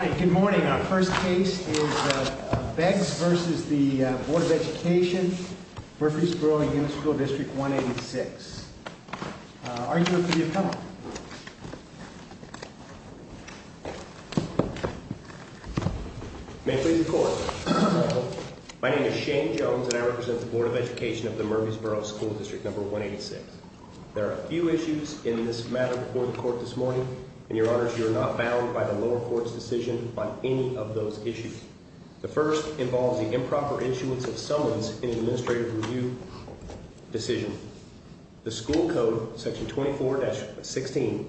Good morning. Our first case is Beggs v. Bd. of Ed. of Murphysboro Unit School Dist. 186. Argue it for the appellant. May it please the court. My name is Shane Jones and I represent the Board of Education of the Murphysboro School Dist. 186. There are a few issues in this matter before the court this morning. And your honors, you are not bound by the lower court's decision on any of those issues. The first involves the improper issuance of summons in an administrative review decision. The school code, section 24-16,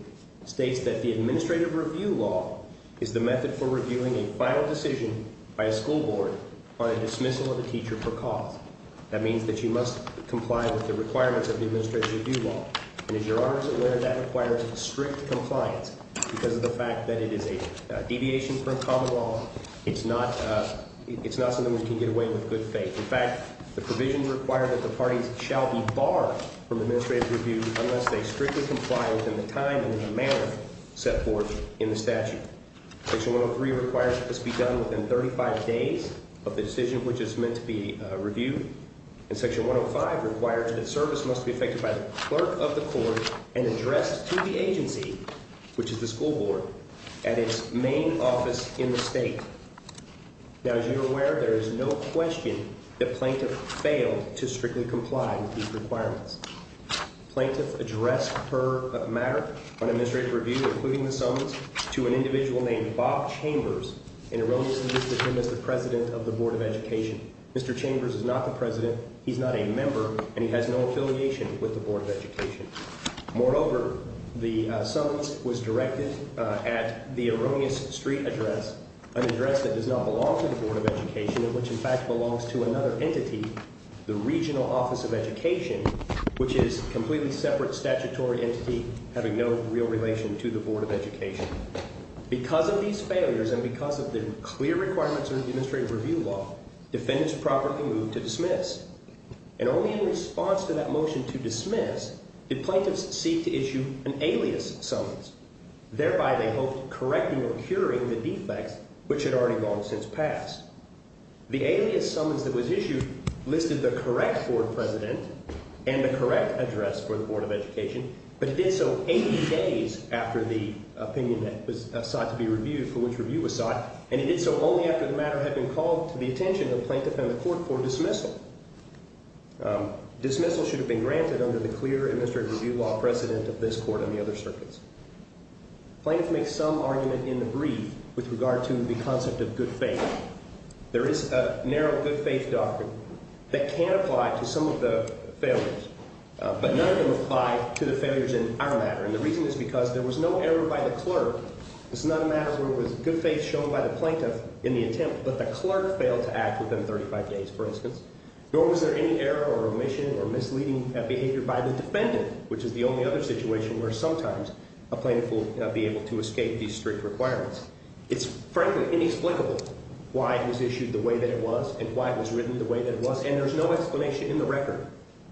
states that the administrative review law is the method for reviewing a final decision by a school board on a dismissal of a teacher for cause. That means that you must comply with the requirements of the administrative review law. And as your honors are aware, that requires strict compliance because of the fact that it is a deviation from common law. It's not something we can get away with good faith. In fact, the provisions require that the parties shall be barred from administrative review unless they strictly comply within the time and the manner set forth in the statute. Section 103 requires that this be done within 35 days of the decision which is meant to be reviewed. And section 105 requires that service must be affected by the clerk of the court and addressed to the agency, which is the school board, at its main office in the state. Now, as you're aware, there is no question that plaintiff failed to strictly comply with these requirements. Plaintiff addressed her matter on administrative review, including the summons, to an individual named Bob Chambers and erroneously listed him as the president of the Board of Education. Mr. Chambers is not the president. He's not a member, and he has no affiliation with the Board of Education. Moreover, the summons was directed at the erroneous street address, an address that does not belong to the Board of Education and which, in fact, belongs to another entity, the Regional Office of Education, which is a completely separate statutory entity having no real relation to the Board of Education. Because of these failures and because of the clear requirements of the administrative review law, defendants properly moved to dismiss. And only in response to that motion to dismiss, the plaintiffs seek to issue an alias summons. Thereby, they hoped correcting or curing the defects which had already gone since past. The alias summons that was issued listed the correct board president and the correct address for the Board of Education, but it did so 80 days after the opinion that was sought to be reviewed for which review was sought, and it did so only after the matter had been called to the attention of the plaintiff and the court for dismissal. Dismissal should have been granted under the clear administrative review law precedent of this court and the other circuits. Plaintiffs make some argument in the brief with regard to the concept of good faith. There is a narrow good faith doctrine that can apply to some of the failures, but none of them apply to the failures in our matter. And the reason is because there was no error by the clerk. This is not a matter where it was good faith shown by the plaintiff in the attempt, but the clerk failed to act within 35 days, for instance. Nor was there any error or omission or misleading behavior by the defendant, which is the only other situation where sometimes a plaintiff will be able to escape these strict requirements. It's frankly inexplicable why it was issued the way that it was and why it was written the way that it was, and there's no explanation in the record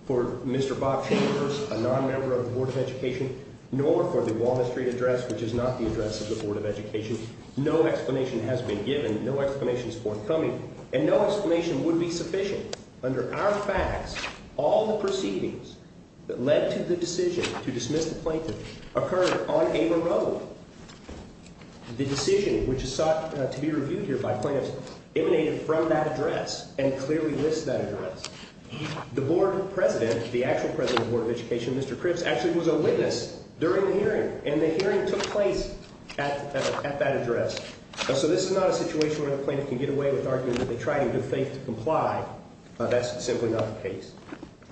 for Mr. Bob Chambers, a non-member of the Board of Education, nor for the Walnut Street address, which is not the address of the Board of Education. No explanation has been given. No explanation is forthcoming, and no explanation would be sufficient. Under our facts, all the proceedings that led to the decision to dismiss the plaintiff occurred on Ava Road. The decision, which is sought to be reviewed here by plaintiffs, emanated from that address and clearly lists that address. The board president, the actual president of the Board of Education, Mr. Cripps, actually was a witness during the hearing, and the hearing took place at that address. So this is not a situation where the plaintiff can get away with arguing that they tried in good faith to comply. That's simply not the case.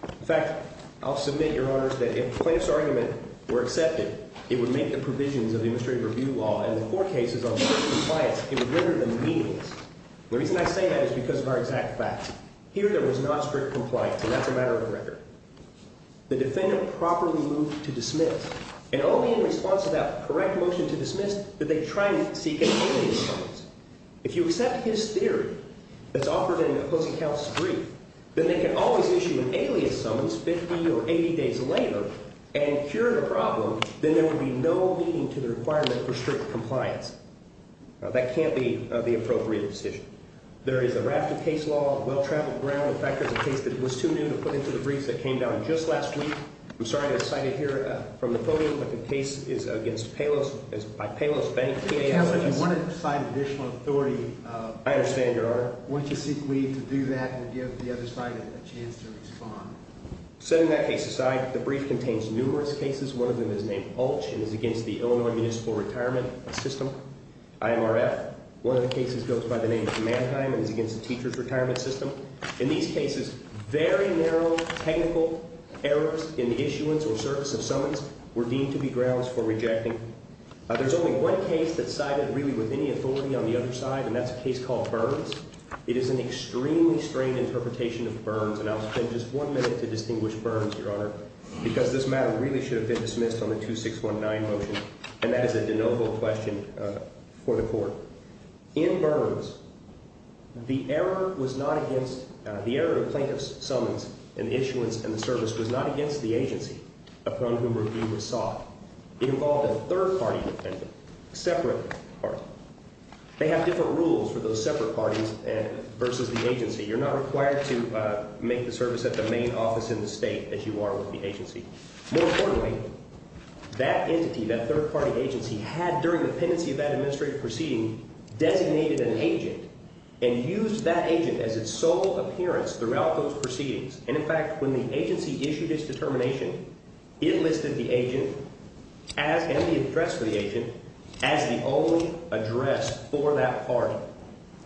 In fact, I'll submit, Your Honors, that if the plaintiff's argument were accepted, it would make the provisions of the Administrative Review Law and the four cases on strict compliance, it would render them meaningless. The reason I say that is because of our exact facts. Here there was not strict compliance, and that's a matter of record. The defendant properly moved to dismiss, and it will be in response to that correct motion to dismiss that they try and seek an immediate response. If you accept his theory that's offered in an opposing counsel's brief, then they can always issue an alias summons 50 or 80 days later and cure the problem. Then there would be no meaning to the requirement for strict compliance. Now, that can't be the appropriate decision. There is a raft of case law, well-traveled ground, and factors of case that it was too new to put into the briefs that came down just last week. I'm sorry to cite it here from the podium, but the case is against Palos, is by Palos Bank. If you want to cite additional authority, I understand, Your Honor. Why don't you seek leave to do that and give the other side a chance to respond? Setting that case aside, the brief contains numerous cases. One of them is named Palos and is against the Illinois Municipal Retirement System, IMRF. One of the cases goes by the name of Mannheim and is against the teacher's retirement system. In these cases, very narrow technical errors in the issuance or service of summons were deemed to be grounds for rejecting. There's only one case that cited really with any authority on the other side, and that's a case called Burns. It is an extremely strained interpretation of Burns, and I'll spend just one minute to distinguish Burns, Your Honor, because this matter really should have been dismissed on the 2619 motion, and that is a de novo question for the court. In Burns, the error of plaintiff's summons and issuance and the service was not against the agency upon whom review was sought. It involved a third-party defendant, a separate party. They have different rules for those separate parties versus the agency. You're not required to make the service at the main office in the state as you are with the agency. More importantly, that entity, that third-party agency, had during the pendency of that administrative proceeding designated an agent and used that agent as its sole appearance throughout those proceedings. And, in fact, when the agency issued its determination, it listed the agent and the address of the agent as the only address for that party.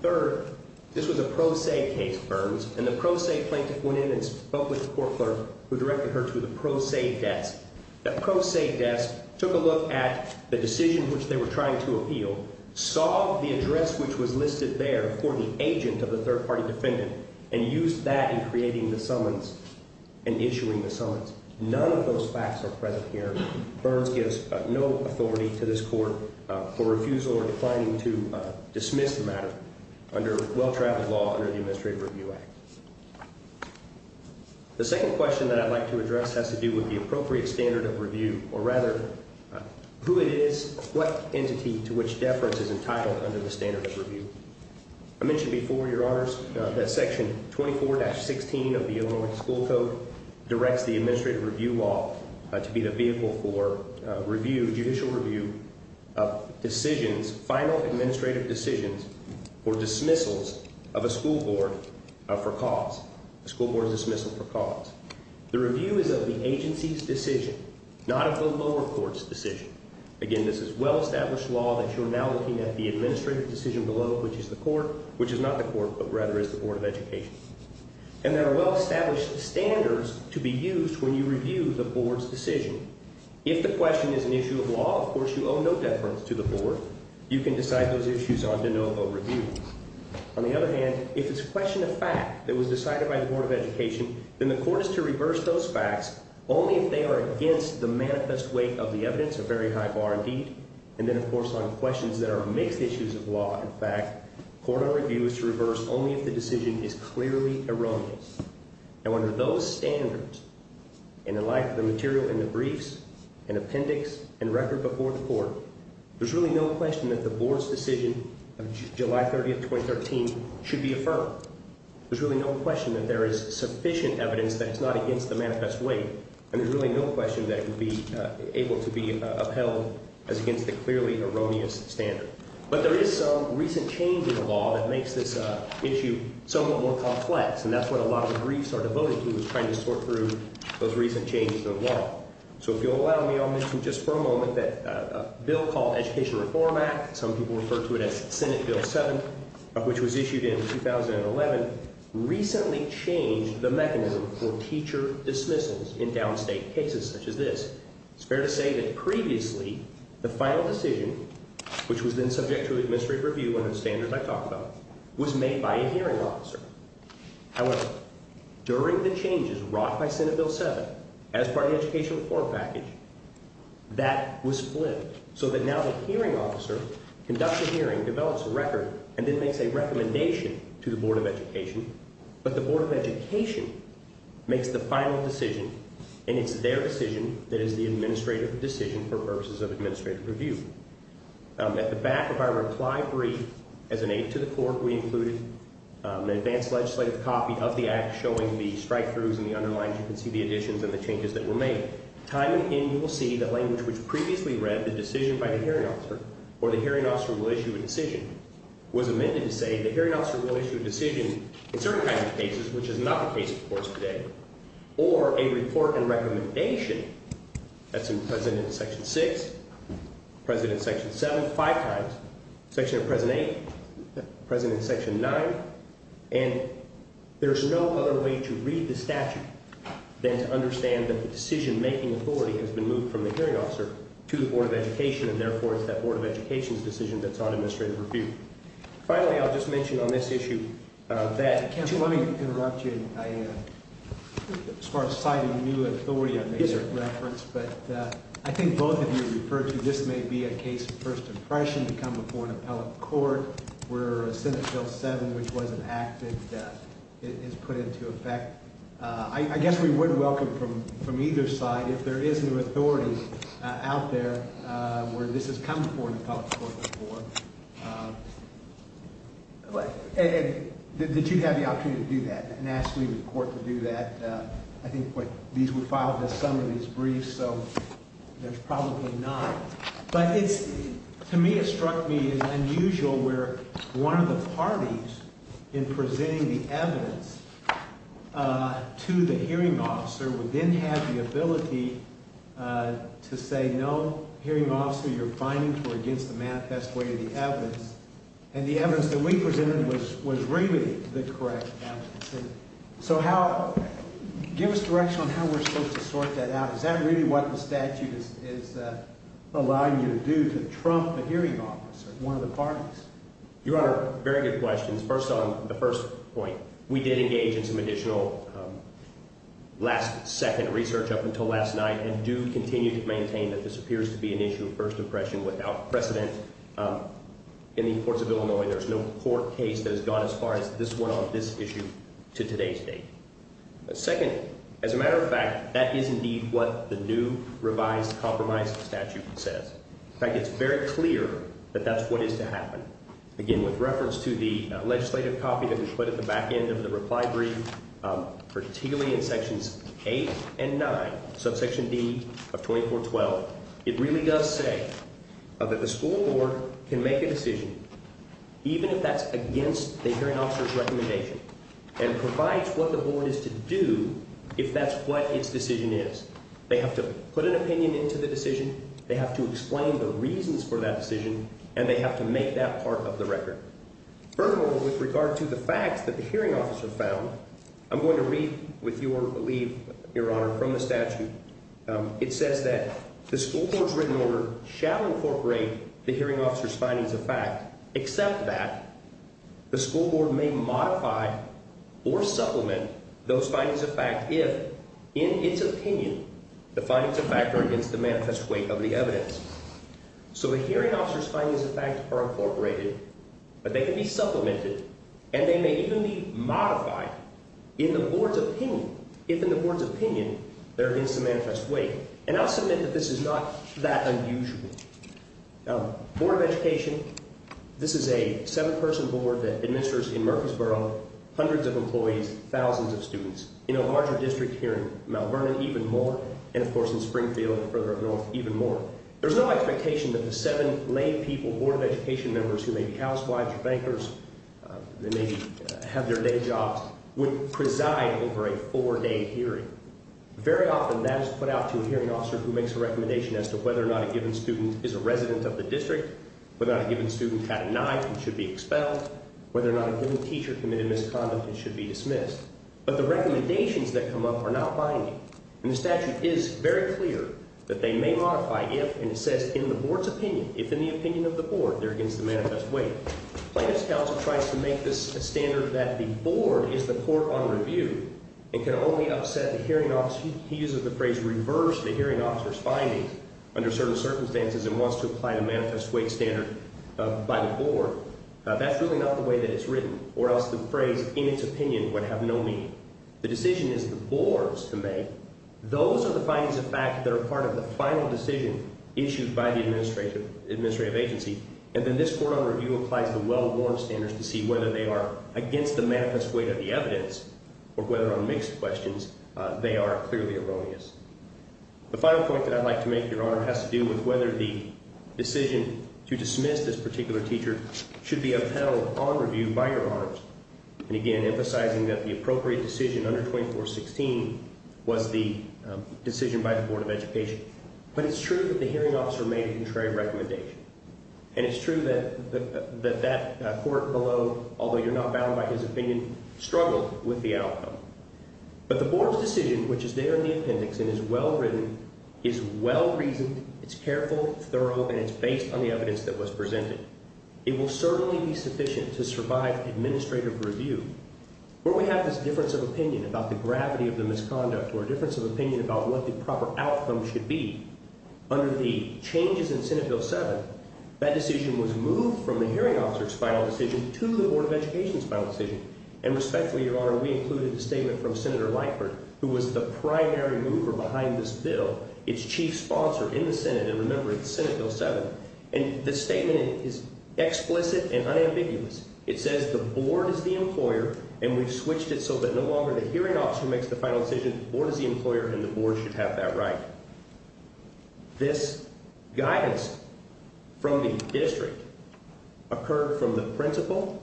Third, this was a pro se case, Burns, and the pro se plaintiff went in and spoke with the court clerk who directed her to the pro se desk. The pro se desk took a look at the decision which they were trying to appeal, saw the address which was listed there for the agent of the third-party defendant, and used that in creating the summons and issuing the summons. None of those facts are present here. Burns gives no authority to this court for refusal or declining to dismiss the matter under well-traveled law under the Administrative Review Act. The second question that I'd like to address has to do with the appropriate standard of review, or rather who it is, what entity to which deference is entitled under the standard of review. I mentioned before, Your Honors, that Section 24-16 of the Illinois School Code directs the administrative review law to be the vehicle for review, judicial review, of decisions, final administrative decisions, or dismissals of a school board for cause, a school board dismissal for cause. The review is of the agency's decision, not of the lower court's decision. Again, this is well-established law that you're now looking at the administrative decision below, which is the court, which is not the court, but rather is the Board of Education. And there are well-established standards to be used when you review the board's decision. If the question is an issue of law, of course, you owe no deference to the board. You can decide those issues on to no overview. On the other hand, if it's a question of fact that was decided by the Board of Education, then the court is to reverse those facts only if they are against the manifest weight of the evidence, a very high bar indeed. And then, of course, on questions that are mixed issues of law, in fact, court on review is to reverse only if the decision is clearly erroneous. Now, under those standards, and in light of the material in the briefs and appendix and record before the court, there's really no question that the board's decision of July 30, 2013, should be affirmed. There's really no question that there is sufficient evidence that it's not against the manifest weight, and there's really no question that it would be able to be upheld as against the clearly erroneous standard. But there is some recent change in the law that makes this issue somewhat more complex, and that's what a lot of the briefs are devoted to, is trying to sort through those recent changes in the law. So if you'll allow me, I'll mention just for a moment that a bill called Education Reform Act, some people refer to it as Senate Bill 7, which was issued in 2011, recently changed the mechanism for teacher dismissals in downstate cases such as this. It's fair to say that previously, the final decision, which was then subject to administrative review under the standards I talked about, was made by a hearing officer. However, during the changes wrought by Senate Bill 7, as part of the Education Reform package, that was split so that now the hearing officer conducts a hearing, develops a record, and then makes a recommendation to the Board of Education. But the Board of Education makes the final decision, and it's their decision that is the administrative decision for purposes of administrative review. At the back of our reply brief, as an aid to the court, we included an advanced legislative copy of the act showing the strikethroughs and the underlines. You can see the additions and the changes that were made. Time and again, you will see the language which previously read, the decision by the hearing officer, or the hearing officer will issue a decision, was amended to say the hearing officer will issue a decision in certain kinds of cases, which is not the case, of course, today, or a report and recommendation. That's in President Section 6, President Section 7 five times, Section of President 8, President Section 9. And there's no other way to read the statute than to understand that the decision-making authority has been moved from the hearing officer to the Board of Education, and therefore it's that Board of Education's decision that's on administrative review. Finally, I'll just mention on this issue that Let me interrupt you. As far as citing new authority, I made a reference, but I think both of you referred to this may be a case of first impression to come before an appellate court where Senate Bill 7, which was an act that is put into effect. I guess we would welcome from either side, if there is new authority out there where this has come before an appellate court before, that you'd have the opportunity to do that and ask the court to do that. I think these were filed as some of these briefs, so there's probably none. To me, it struck me as unusual where one of the parties in presenting the evidence to the hearing officer would then have the ability to say, No, hearing officer, your findings were against the manifest way of the evidence. And the evidence that we presented was really the correct evidence. So give us direction on how we're supposed to sort that out. Is that really what the statute is allowing you to do to trump the hearing officer? One of the parties? Your Honor, very good questions. First on the first point, we did engage in some additional last second research up until last night and do continue to maintain that this appears to be an issue of first impression without precedent. In the courts of Illinois, there's no court case that has gone as far as this one on this issue to today's date. Second, as a matter of fact, that is indeed what the new revised compromise statute says. In fact, it's very clear that that's what is to happen. Again, with reference to the legislative copy that was put at the back end of the reply brief, particularly in sections eight and nine, subsection D of 2412, it really does say that the school board can make a decision, even if that's against the hearing officer's recommendation, and provides what the board is to do if that's what its decision is. They have to put an opinion into the decision, they have to explain the reasons for that decision, and they have to make that part of the record. Furthermore, with regard to the facts that the hearing officer found, I'm going to read with your leave, Your Honor, from the statute. It says that the school board's written order shall incorporate the hearing officer's findings of fact, except that the school board may modify or supplement those findings of fact if, in its opinion, the findings of fact are against the manifest weight of the evidence. So the hearing officer's findings of fact are incorporated, but they can be supplemented, and they may even be modified in the board's opinion, if in the board's opinion they're against the manifest weight. And I'll submit that this is not that unusual. Board of Education, this is a seven-person board that administers in Murfreesboro hundreds of employees, thousands of students, in a larger district here in Mount Vernon even more, and, of course, in Springfield further north even more. There's no expectation that the seven lay people, board of education members who may be housewives or bankers that maybe have their day jobs, would preside over a four-day hearing. Very often that is put out to a hearing officer who makes a recommendation as to whether or not a given student is a resident of the district, whether or not a given student had a knife and should be expelled, whether or not a given teacher committed misconduct and should be dismissed. But the recommendations that come up are not binding. And the statute is very clear that they may modify if, and it says in the board's opinion, if in the opinion of the board they're against the manifest weight. Plaintiffs' Counsel tries to make this a standard that the board is the court on review and can only upset the hearing officer. He uses the phrase reverse the hearing officer's findings under certain circumstances and wants to apply the manifest weight standard by the board. That's really not the way that it's written, or else the phrase in its opinion would have no meaning. The decision is the board's to make. Those are the findings of fact that are part of the final decision issued by the administrative agency, and then this court on review applies the well-worn standards to see whether they are against the manifest weight of the evidence or whether on mixed questions they are clearly erroneous. The final point that I'd like to make, Your Honor, has to do with whether the decision to dismiss this particular teacher should be upheld on review by Your Honors. And, again, emphasizing that the appropriate decision under 2416 was the decision by the Board of Education. But it's true that the hearing officer made a contrary recommendation, and it's true that that court below, although you're not bound by his opinion, struggled with the outcome. But the board's decision, which is there in the appendix and is well-written, is well-reasoned, it's careful, thorough, and it's based on the evidence that was presented. It will certainly be sufficient to survive administrative review. Where we have this difference of opinion about the gravity of the misconduct or a difference of opinion about what the proper outcome should be under the changes in Senate Bill 7, that decision was moved from the hearing officer's final decision to the Board of Education's final decision. And respectfully, Your Honor, we included the statement from Senator Lightford, who was the primary mover behind this bill, its chief sponsor in the Senate, and remember, it's Senate Bill 7. And the statement is explicit and unambiguous. It says the board is the employer, and we've switched it so that no longer the hearing officer makes the final decision, the board is the employer, and the board should have that right. This guidance from the district occurred from the principal,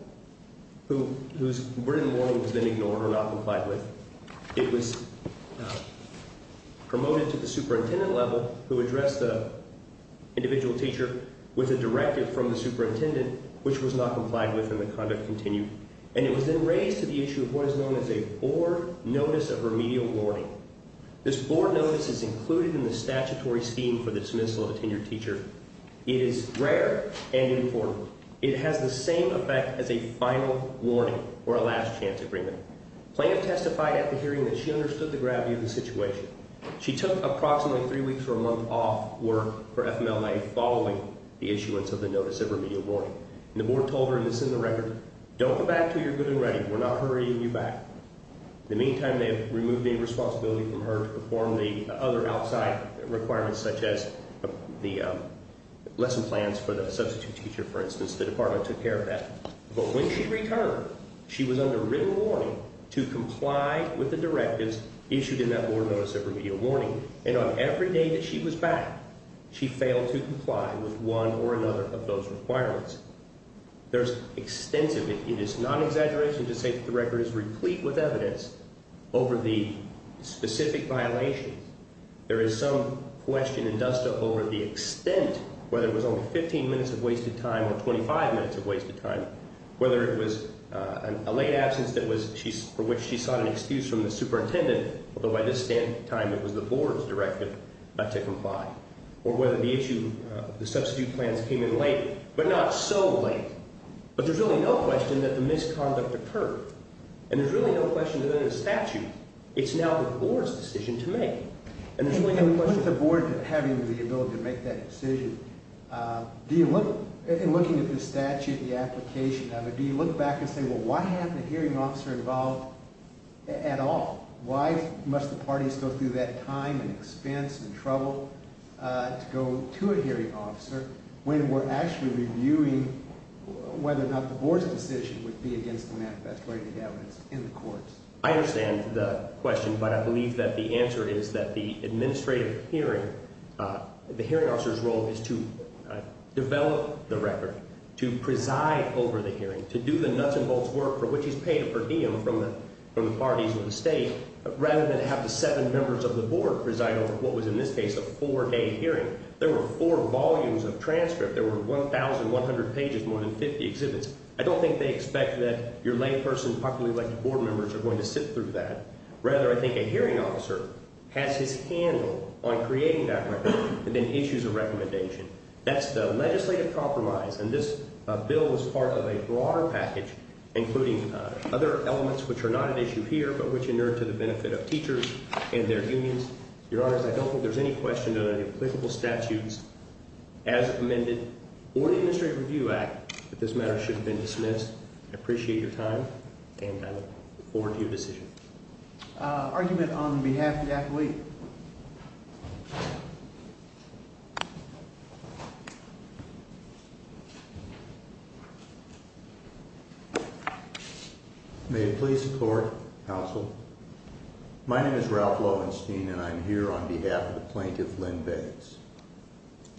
whose written warning was then ignored or not complied with. It was promoted to the superintendent level, who addressed the individual teacher with a directive from the superintendent, which was not complied with, and the conduct continued. And it was then raised to the issue of what is known as a board notice of remedial warning. This board notice is included in the statutory scheme for the dismissal of a tenured teacher. It is rare and important. It has the same effect as a final warning or a last chance agreement. Plaintiff testified at the hearing that she understood the gravity of the situation. She took approximately three weeks or a month off work for FMLA following the issuance of the notice of remedial warning. And the board told her, and this is in the record, don't go back until you're good and ready. We're not hurrying you back. In the meantime, they have removed any responsibility from her to perform the other outside requirements, such as the lesson plans for the substitute teacher, for instance. The department took care of that. But when she returned, she was under written warning to comply with the directives issued in that board notice of remedial warning. And on every day that she was back, she failed to comply with one or another of those requirements. There's extensively, it is not an exaggeration to say that the record is replete with evidence over the specific violations. There is some question and dust up over the extent, whether it was only 15 minutes of wasted time or 25 minutes of wasted time, whether it was a late absence for which she sought an excuse from the superintendent, although by this time it was the board's directive not to comply, or whether the issue, the substitute plans came in late, but not so late. But there's really no question that the misconduct occurred. And there's really no question that in a statute, it's now the board's decision to make. And there's really no question. With the board having the ability to make that decision, do you look, in looking at the statute, the application of it, do you look back and say, well, why have the hearing officer involved at all? Why must the parties go through that time and expense and trouble to go to a hearing officer when we're actually reviewing whether or not the board's decision would be against the manifest writing of evidence in the courts? I understand the question, but I believe that the answer is that the administrative hearing, the hearing officer's role is to develop the record, to preside over the hearing, to do the nuts and bolts work for which he's paid a per diem from the parties of the state, rather than have the seven members of the board preside over what was, in this case, a four-day hearing. There were four volumes of transcript. There were 1,100 pages, more than 50 exhibits. I don't think they expect that your layperson, publicly elected board members, are going to sit through that. Rather, I think a hearing officer has his handle on creating that record and then issues a recommendation. That's the legislative compromise, and this bill is part of a broader package, including other elements which are not at issue here but which inure to the benefit of teachers and their unions. Your Honors, I don't think there's any question that any applicable statutes, as amended, or the Administrative Review Act that this matter should have been dismissed. I appreciate your time, and I look forward to your decision. Argument on behalf of the athlete. May it please the Court, Counsel. My name is Ralph Loewenstein, and I'm here on behalf of the plaintiff, Lynn Bates.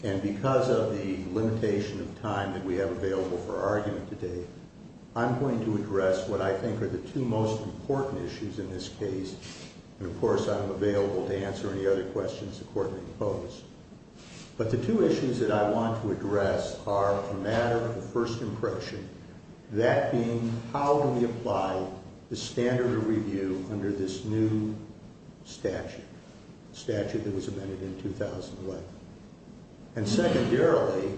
And because of the limitation of time that we have available for argument today, I'm going to address what I think are the two most important issues in this case. And, of course, I'm available to answer any other questions the Court may pose. But the two issues that I want to address are a matter of the first impression, that being how do we apply the standard of review under this new statute, the statute that was amended in 2001? And secondarily,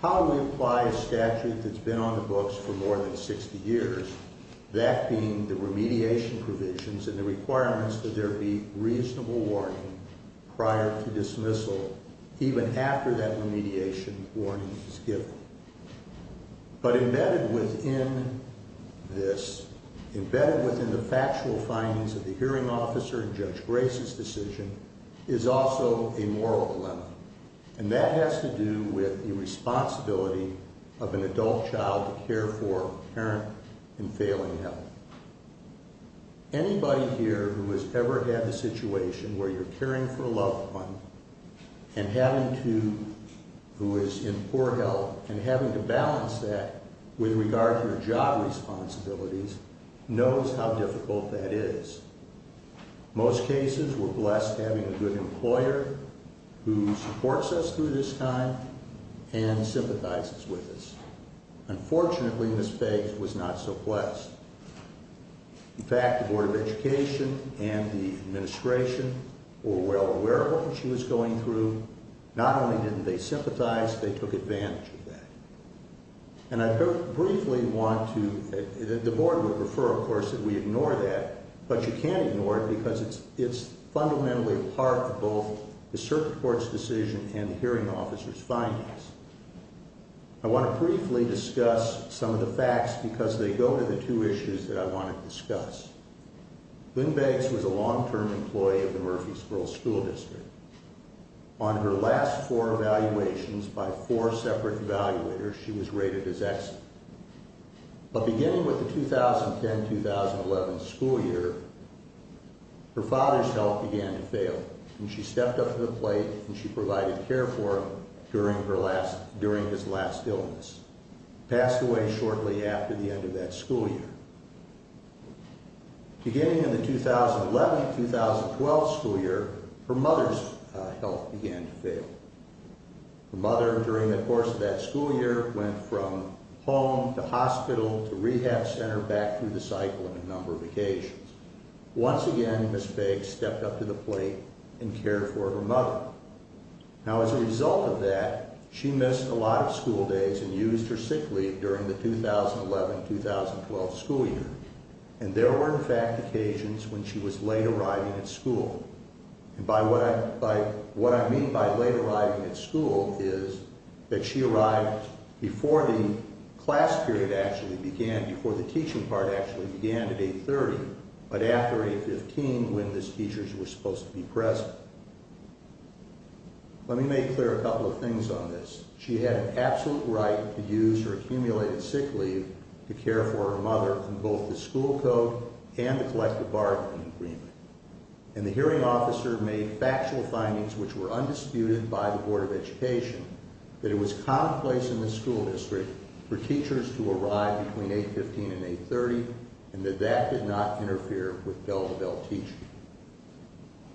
how do we apply a statute that's been on the books for more than 60 years, that being the remediation provisions and the requirements that there be reasonable warning prior to dismissal, even after that remediation warning is given? But embedded within this, embedded within the factual findings of the hearing officer and Judge Grace's decision, is also a moral dilemma, and that has to do with the responsibility of an adult child to care for a parent in failing health. Anybody here who has ever had the situation where you're caring for a loved one and having to, who is in poor health, and having to balance that with regard to their job responsibilities knows how difficult that is. Most cases, we're blessed having a good employer who supports us through this time and sympathizes with us. Unfortunately, Ms. Faith was not so blessed. In fact, the Board of Education and the administration were well aware of what she was going through. Not only didn't they sympathize, they took advantage of that. And I briefly want to, the Board would prefer, of course, that we ignore that, but you can't ignore it because it's fundamentally part of both the circuit court's decision and the hearing officer's findings. I want to briefly discuss some of the facts because they go to the two issues that I want to discuss. Lynn Bates was a long-term employee of the Murfreesboro School District. On her last four evaluations, by four separate evaluators, she was rated as excellent. But beginning with the 2010-2011 school year, her father's health began to fail, and she stepped up to the plate and she provided care for him during his last illness. He passed away shortly after the end of that school year. Beginning in the 2011-2012 school year, her mother's health began to fail. Her mother, during the course of that school year, went from home to hospital to rehab center, Once again, Ms. Bates stepped up to the plate and cared for her mother. Now, as a result of that, she missed a lot of school days and used her sick leave during the 2011-2012 school year. And there were, in fact, occasions when she was late arriving at school. What I mean by late arriving at school is that she arrived before the class period actually began, before the teaching part actually began at 8.30, but after 8.15 when the teachers were supposed to be present. Let me make clear a couple of things on this. She had an absolute right to use her accumulated sick leave to care for her mother in both the school code and the collective bargaining agreement. And the hearing officer made factual findings which were undisputed by the Board of Education that it was commonplace in the school district for teachers to arrive between 8.15 and 8.30 and that that did not interfere with Bell to Bell teaching.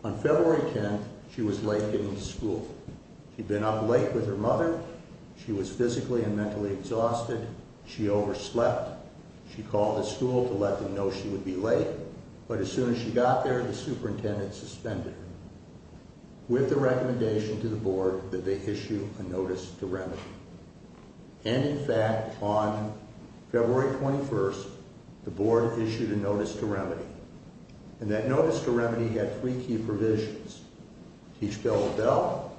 On February 10th, she was late getting to school. She'd been up late with her mother. She was physically and mentally exhausted. She overslept. She called the school to let them know she would be late. But as soon as she got there, the superintendent suspended her with the recommendation to the board that they issue a notice to remedy. And, in fact, on February 21st, the board issued a notice to remedy. And that notice to remedy had three key provisions. Teach Bell to Bell.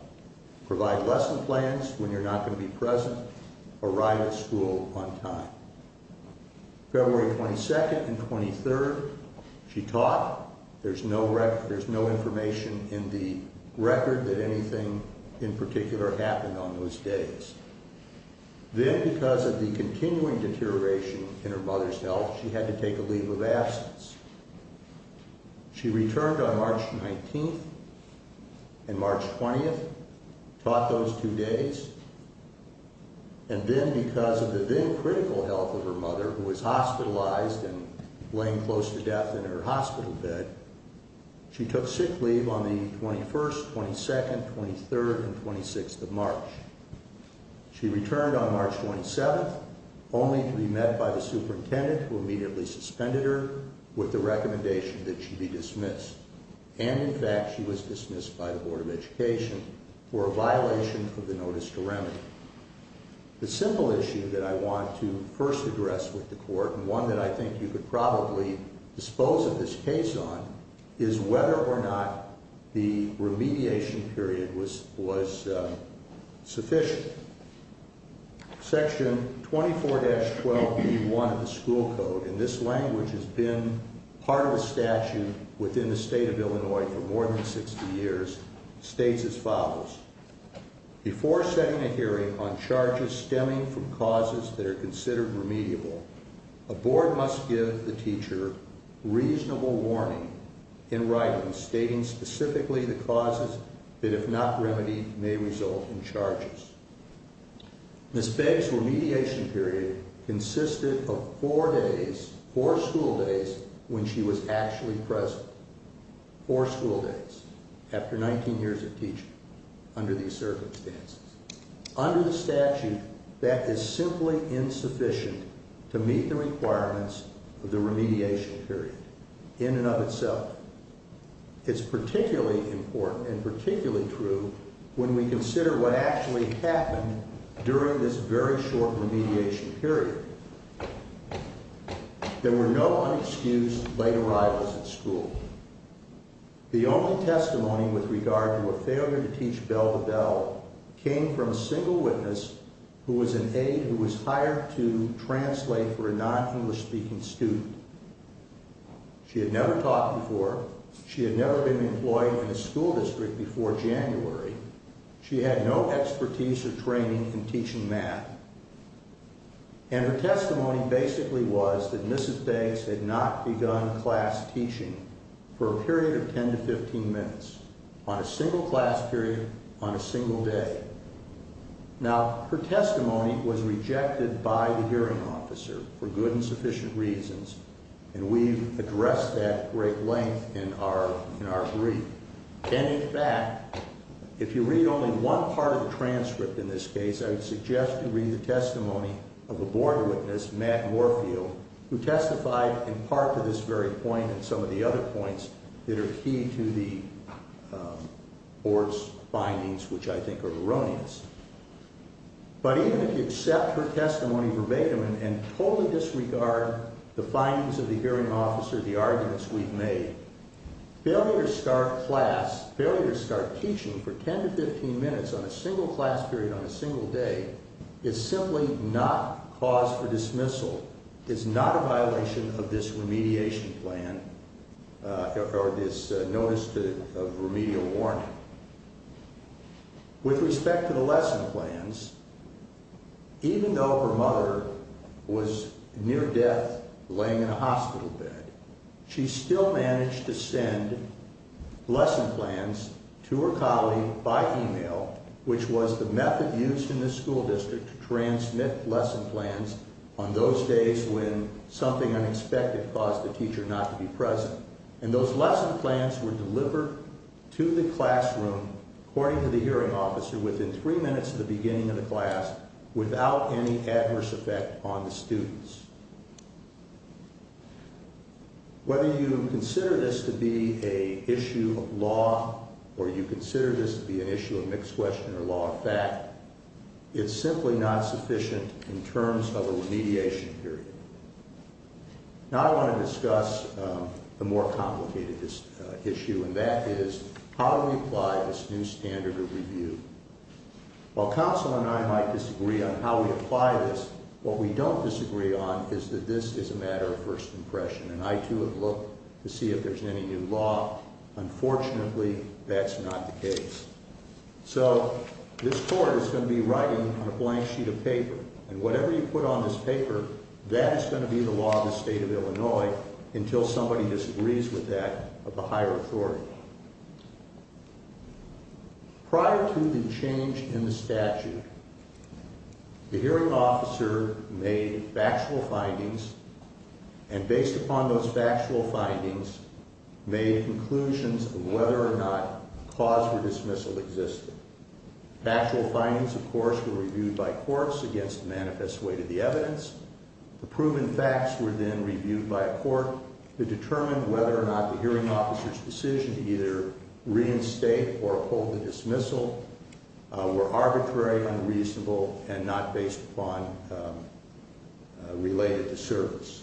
Provide lesson plans when you're not going to be present. Arrive at school on time. February 22nd and 23rd, she taught. There's no information in the record that anything in particular happened on those days. Then, because of the continuing deterioration in her mother's health, she had to take a leave of absence. She returned on March 19th and March 20th, taught those two days. And then, because of the then-critical health of her mother, who was hospitalized and laying close to death in her hospital bed, she took sick leave on the 21st, 22nd, 23rd, and 26th of March. She returned on March 27th, only to be met by the superintendent, who immediately suspended her with the recommendation that she be dismissed. And, in fact, she was dismissed by the Board of Education for a violation of the notice to remedy. The simple issue that I want to first address with the court, and one that I think you could probably dispose of this case on, is whether or not the remediation period was sufficient. Section 24-12b1 of the school code, and this language has been part of a statute within the state of Illinois for more than 60 years, states as follows, Before setting a hearing on charges stemming from causes that are considered remediable, a board must give the teacher reasonable warning in writing, stating specifically the causes that, if not remedied, may result in charges. Ms. Begg's remediation period consisted of four days, four school days, when she was actually present. Four school days, after 19 years of teaching, under these circumstances. Under the statute, that is simply insufficient to meet the requirements of the remediation period, in and of itself. It's particularly important, and particularly true, when we consider what actually happened during this very short remediation period. There were no unexcused late arrivals at school. The only testimony with regard to a failure to teach bell-to-bell came from a single witness who was an aide who was hired to translate for a non-English speaking student. She had never taught before. She had never been employed in a school district before January. She had no expertise or training in teaching math. And her testimony basically was that Ms. Begg's had not begun class teaching for a period of 10 to 15 minutes, on a single class period, on a single day. Now, her testimony was rejected by the hearing officer for good and sufficient reasons, and we've addressed that at great length in our brief. And in fact, if you read only one part of the transcript in this case, I would suggest you read the testimony of a board witness, Matt Morfield, who testified in part to this very point and some of the other points that are key to the board's findings, which I think are erroneous. But even if you accept her testimony verbatim and totally disregard the findings of the hearing officer, the arguments we've made, failure to start class, failure to start teaching for 10 to 15 minutes on a single class period on a single day, is simply not cause for dismissal, is not a violation of this remediation plan or this notice of remedial warning. With respect to the lesson plans, even though her mother was near death, laying in a hospital bed, she still managed to send lesson plans to her colleague by e-mail, which was the method used in this school district to transmit lesson plans on those days when something unexpected caused the teacher not to be present. And those lesson plans were delivered to the classroom, according to the hearing officer, within three minutes of the beginning of the class, without any adverse effect on the students. Whether you consider this to be a issue of law or you consider this to be an issue of mixed question or law of fact, it's simply not sufficient in terms of a remediation period. Now I want to discuss a more complicated issue, and that is how do we apply this new standard of review? While counsel and I might disagree on how we apply this, what we don't disagree on is that this is a matter of first impression, and I, too, have looked to see if there's any new law. Unfortunately, that's not the case. So this court is going to be writing on a blank sheet of paper, and whatever you put on this paper, that is going to be the law of the state of Illinois until somebody disagrees with that of the higher authority. Prior to the change in the statute, the hearing officer made factual findings, and based upon those factual findings, made conclusions of whether or not a cause for dismissal existed. Factual findings, of course, were reviewed by courts against the manifest weight of the evidence. The proven facts were then reviewed by a court to determine whether or not the hearing officer's decision to either reinstate or uphold the dismissal were arbitrary, unreasonable, and not based upon related to service.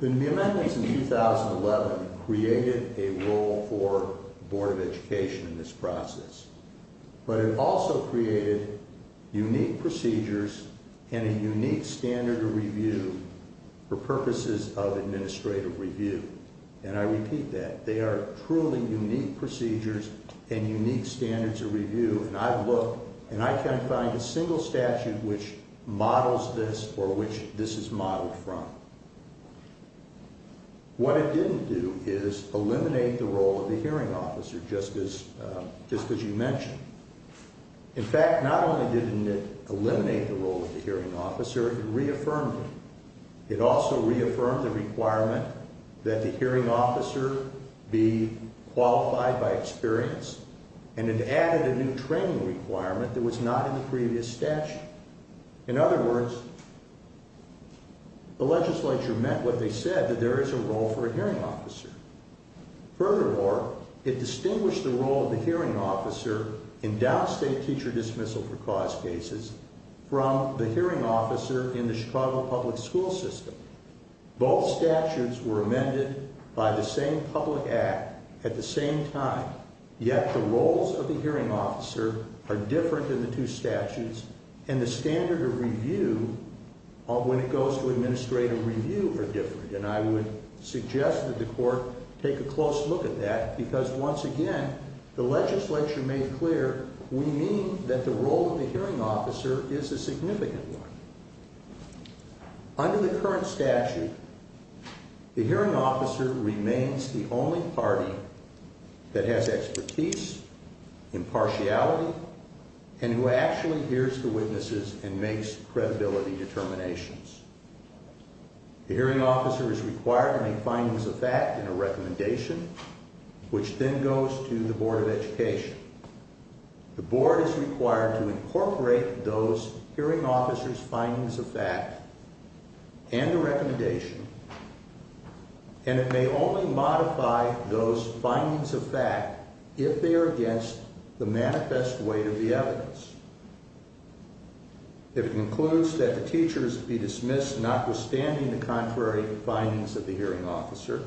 The amendments in 2011 created a role for the Board of Education in this process, but it also created unique procedures and a unique standard of review for purposes of administrative review. And I repeat that. They are truly unique procedures and unique standards of review, and I've looked, and I can't find a single statute which models this or which this is modeled from. What it didn't do is eliminate the role of the hearing officer, just as you mentioned. In fact, not only did it eliminate the role of the hearing officer, it reaffirmed it. It also reaffirmed the requirement that the hearing officer be qualified by experience, and it added a new training requirement that was not in the previous statute. In other words, the legislature meant what they said, that there is a role for a hearing officer. Furthermore, it distinguished the role of the hearing officer in downstate teacher dismissal for cause cases from the hearing officer in the Chicago public school system. Both statutes were amended by the same public act at the same time, yet the roles of the hearing officer are different in the two statutes, and the standard of review when it goes to administrative review are different. And I would suggest that the court take a close look at that, because once again, the legislature made clear we mean that the role of the hearing officer is a significant one. Under the current statute, the hearing officer remains the only party that has expertise, impartiality, and who actually hears the witnesses and makes credibility determinations. The hearing officer is required to make findings of fact in a recommendation, which then goes to the Board of Education. The board is required to incorporate those hearing officers' findings of fact and the recommendation, and it may only modify those findings of fact if they are against the manifest weight of the evidence. If it concludes that the teachers be dismissed notwithstanding the contrary findings of the hearing officer,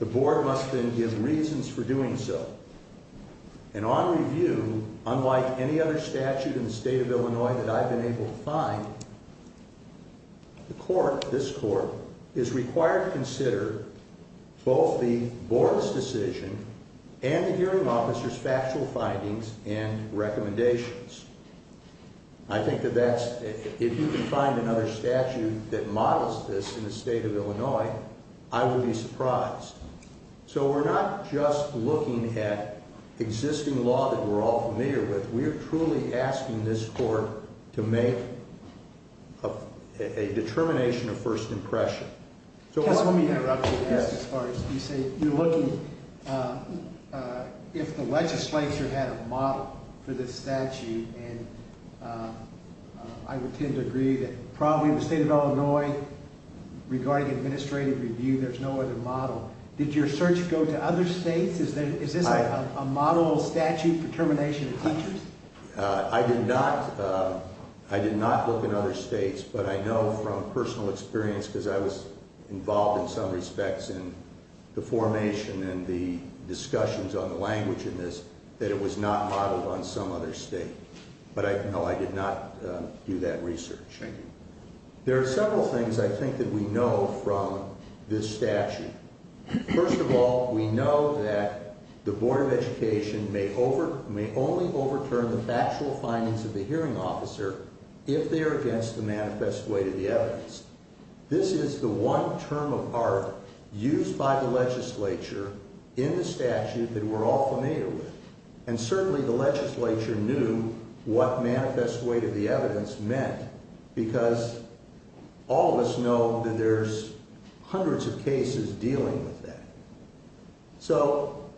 the board must then give reasons for doing so. And on review, unlike any other statute in the state of Illinois that I've been able to find, the court, this court, is required to consider both the board's decision and the hearing officer's factual findings and recommendations. I think that if you can find another statute that models this in the state of Illinois, I would be surprised. So we're not just looking at existing law that we're all familiar with. We are truly asking this court to make a determination of first impression. Let me interrupt you. You say you're looking if the legislature had a model for this statute, and I would tend to agree that probably in the state of Illinois, regarding administrative review, there's no other model. Did your search go to other states? Is this a model statute for termination of teachers? I did not look in other states, but I know from personal experience, because I was involved in some respects in the formation and the discussions on the language in this, that it was not modeled on some other state. But no, I did not do that research. There are several things I think that we know from this statute. First of all, we know that the Board of Education may only overturn the factual findings of the hearing officer if they are against the manifest way to the evidence. This is the one term of art used by the legislature in the statute that we're all familiar with, and certainly the legislature knew what manifest way to the evidence meant, because all of us know that there's hundreds of cases dealing with that. So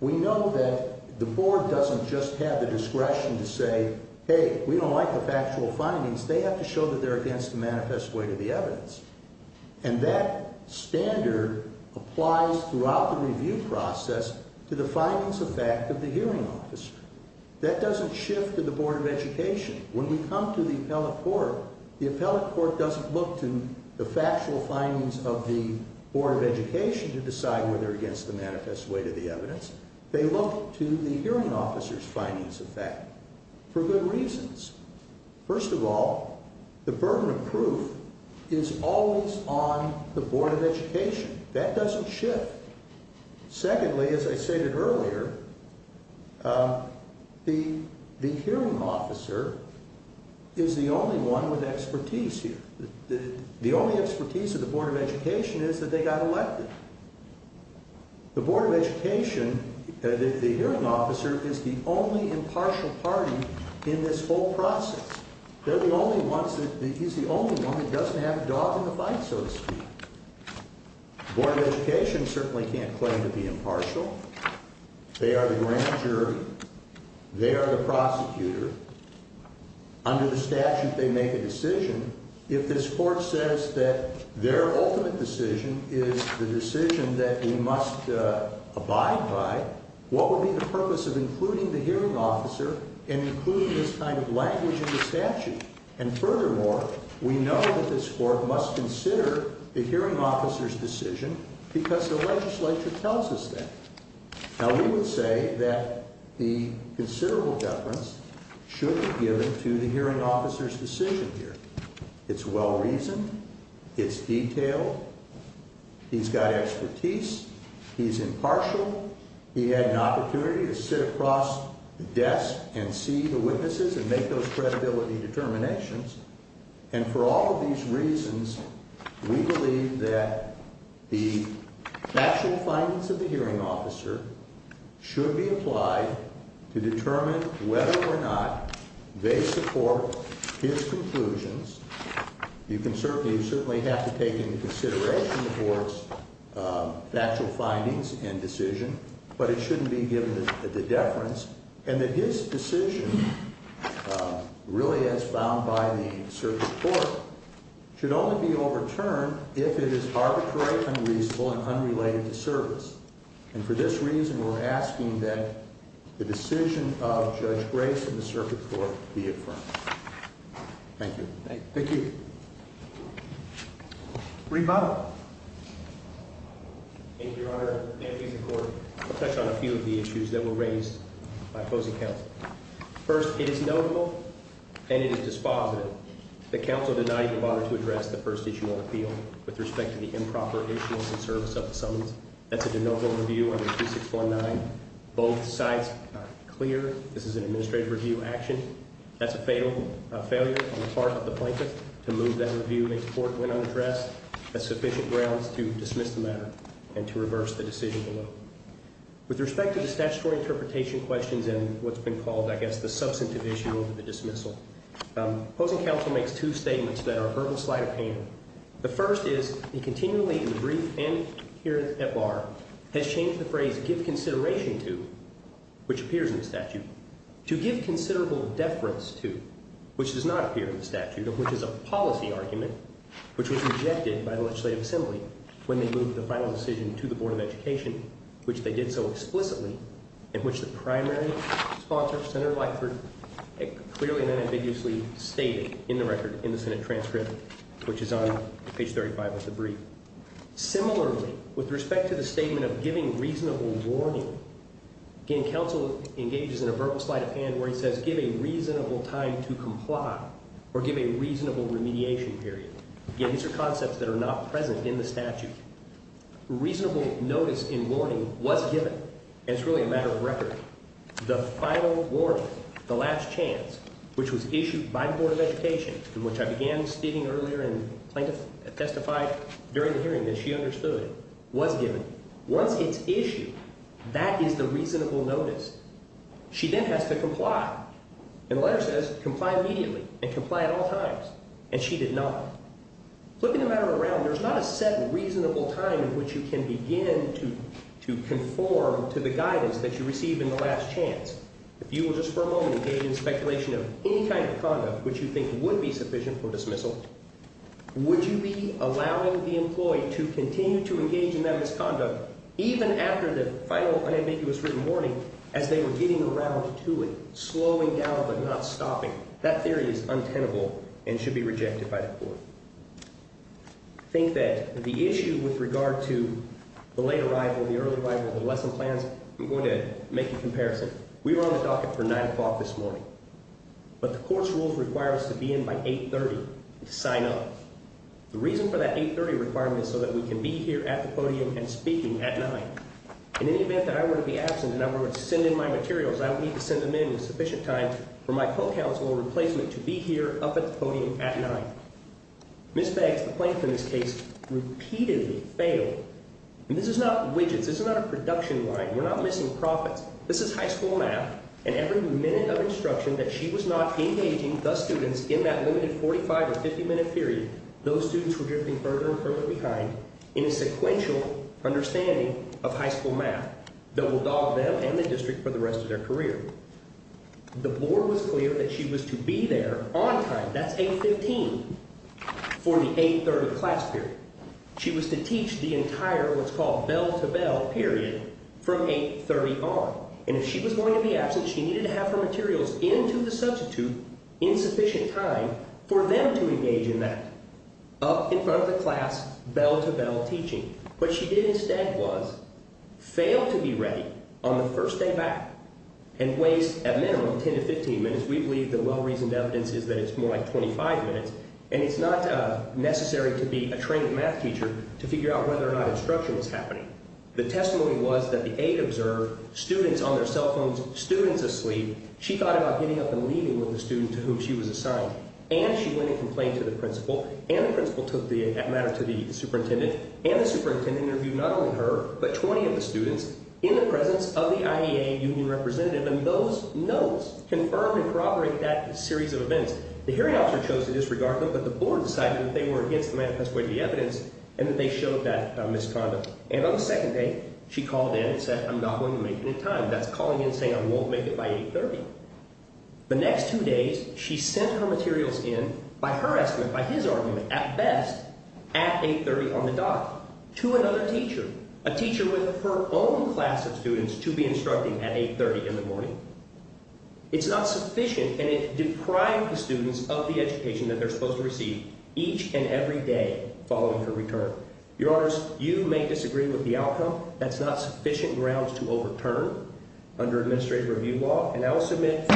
we know that the Board doesn't just have the discretion to say, hey, we don't like the factual findings. They have to show that they're against the manifest way to the evidence, and that standard applies throughout the review process to the findings of fact of the hearing officer. That doesn't shift to the Board of Education. When we come to the appellate court, the appellate court doesn't look to the factual findings of the Board of Education to decide whether they're against the manifest way to the evidence. They look to the hearing officer's findings of fact for good reasons. First of all, the burden of proof is always on the Board of Education. That doesn't shift. Secondly, as I stated earlier, the hearing officer is the only one with expertise here. The only expertise of the Board of Education is that they got elected. The Board of Education, the hearing officer, is the only impartial party in this whole process. They're the only ones, he's the only one that doesn't have a dog in the fight, so to speak. The Board of Education certainly can't claim to be impartial. They are the grand jury. They are the prosecutor. Under the statute, they make a decision. If this court says that their ultimate decision is the decision that we must abide by, what would be the purpose of including the hearing officer in including this kind of language in the statute? And furthermore, we know that this court must consider the hearing officer's decision because the legislature tells us that. Now, we would say that the considerable deference should be given to the hearing officer's decision here. It's well-reasoned. It's detailed. He's got expertise. He's impartial. He had an opportunity to sit across the desk and see the witnesses and make those credibility determinations. And for all of these reasons, we believe that the factual findings of the hearing officer should be applied to determine whether or not they support his conclusions. You certainly have to take into consideration the court's factual findings and decision, but it shouldn't be given to deference. And that his decision, really as found by the circuit court, should only be overturned if it is arbitrary, unreasonable, and unrelated to service. And for this reason, we're asking that the decision of Judge Grace and the circuit court be affirmed. Thank you. Thank you. Thank you. Reem Bottle. Thank you, Your Honor. I'll touch on a few of the issues that were raised by opposing counsel. First, it is notable and it is dispositive that counsel denied your honor to address the first issue on appeal with respect to the improper issuance and service of the summons. That's a de novo review under 2619. Both sides are clear this is an administrative review action. That's a fatal failure on the part of the plaintiff to move that review into court when unaddressed. That's sufficient grounds to dismiss the matter and to reverse the decision below. With respect to the statutory interpretation questions and what's been called, I guess, the substantive issue of the dismissal, opposing counsel makes two statements that are a verbal slight of hand. The first is he continually, in the brief and here at bar, has changed the phrase give consideration to, which appears in the statute, to give considerable deference to, which does not appear in the statute, of which is a policy argument, which was rejected by the Legislative Assembly when they moved the final decision to the Board of Education, which they did so explicitly in which the primary sponsor, Senator Blackford, clearly and unambiguously stated in the record in the Senate transcript, which is on page 35 of the brief. Similarly, with respect to the statement of giving reasonable warning, again, counsel engages in a verbal slight of hand where he says give a reasonable time to comply or give a reasonable remediation period. Again, these are concepts that are not present in the statute. Reasonable notice in warning was given, and it's really a matter of record. The final warning, the last chance, which was issued by the Board of Education, in which I began speaking earlier and testified during the hearing that she understood, was given. Once it's issued, that is the reasonable notice. She then has to comply, and the letter says comply immediately and comply at all times, and she did not. Flipping the matter around, there's not a set reasonable time in which you can begin to conform to the guidance that you received in the last chance. If you will just for a moment engage in speculation of any kind of conduct which you think would be sufficient for dismissal, would you be allowing the employee to continue to engage in that misconduct, even after the final unambiguous written warning as they were getting around to it, slowing down but not stopping? That theory is untenable and should be rejected by the court. I think that the issue with regard to the late arrival, the early arrival, the lesson plans, I'm going to make a comparison. We were on the docket for 9 o'clock this morning, but the court's rules require us to be in by 8.30 to sign off. The reason for that 8.30 requirement is so that we can be here at the podium and speaking at 9. In any event that I were to be absent and I were to send in my materials, I would need to send them in with sufficient time for my co-counsel or replacement to be here up at the podium at 9. Ms. Beggs, the plaintiff in this case, repeatedly failed. And this is not widgets, this is not a production line, we're not missing profits. This is high school math, and every minute of instruction that she was not engaging the students in that limited 45 or 50 minute period, those students were drifting further and further behind in a sequential understanding of high school math that will dog them and the district for the rest of their career. The board was clear that she was to be there on time, that's 8.15, for the 8.30 class period. She was to teach the entire what's called bell-to-bell period from 8.30 on. And if she was going to be absent, she needed to have her materials in to the substitute in sufficient time for them to engage in that. Up in front of the class, bell-to-bell teaching. What she did instead was fail to be ready on the first day back and waste, at minimum, 10 to 15 minutes. We believe the well-reasoned evidence is that it's more like 25 minutes. And it's not necessary to be a trained math teacher to figure out whether or not instruction was happening. The testimony was that the aide observed students on their cell phones, students asleep. She thought about getting up and leaving with the student to whom she was assigned. And she went and complained to the principal. And the principal took the matter to the superintendent. And the superintendent interviewed not only her, but 20 of the students in the presence of the IEA union representative. And those notes confirmed and corroborated that series of events. The hearing officer chose to disregard them, but the board decided that they were against the manifest way of the evidence, and that they showed that misconduct. And on the second day, she called in and said, I'm not going to make it in time. That's calling in and saying I won't make it by 8.30. The next two days, she sent her materials in, by her estimate, by his argument, at best, at 8.30 on the dot, to another teacher. A teacher with her own class of students to be instructing at 8.30 in the morning. It's not sufficient, and it deprived the students of the education that they're supposed to receive each and every day following her return. Your Honors, you may disagree with the outcome. That's not sufficient grounds to overturn under administrative review law. And I will submit,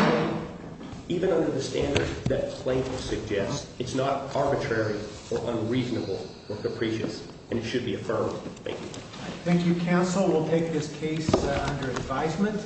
even under the standards that the plaintiff suggests, it's not arbitrary or unreasonable or capricious, and it should be affirmed. Thank you. Thank you, counsel. We'll take this case under advisement.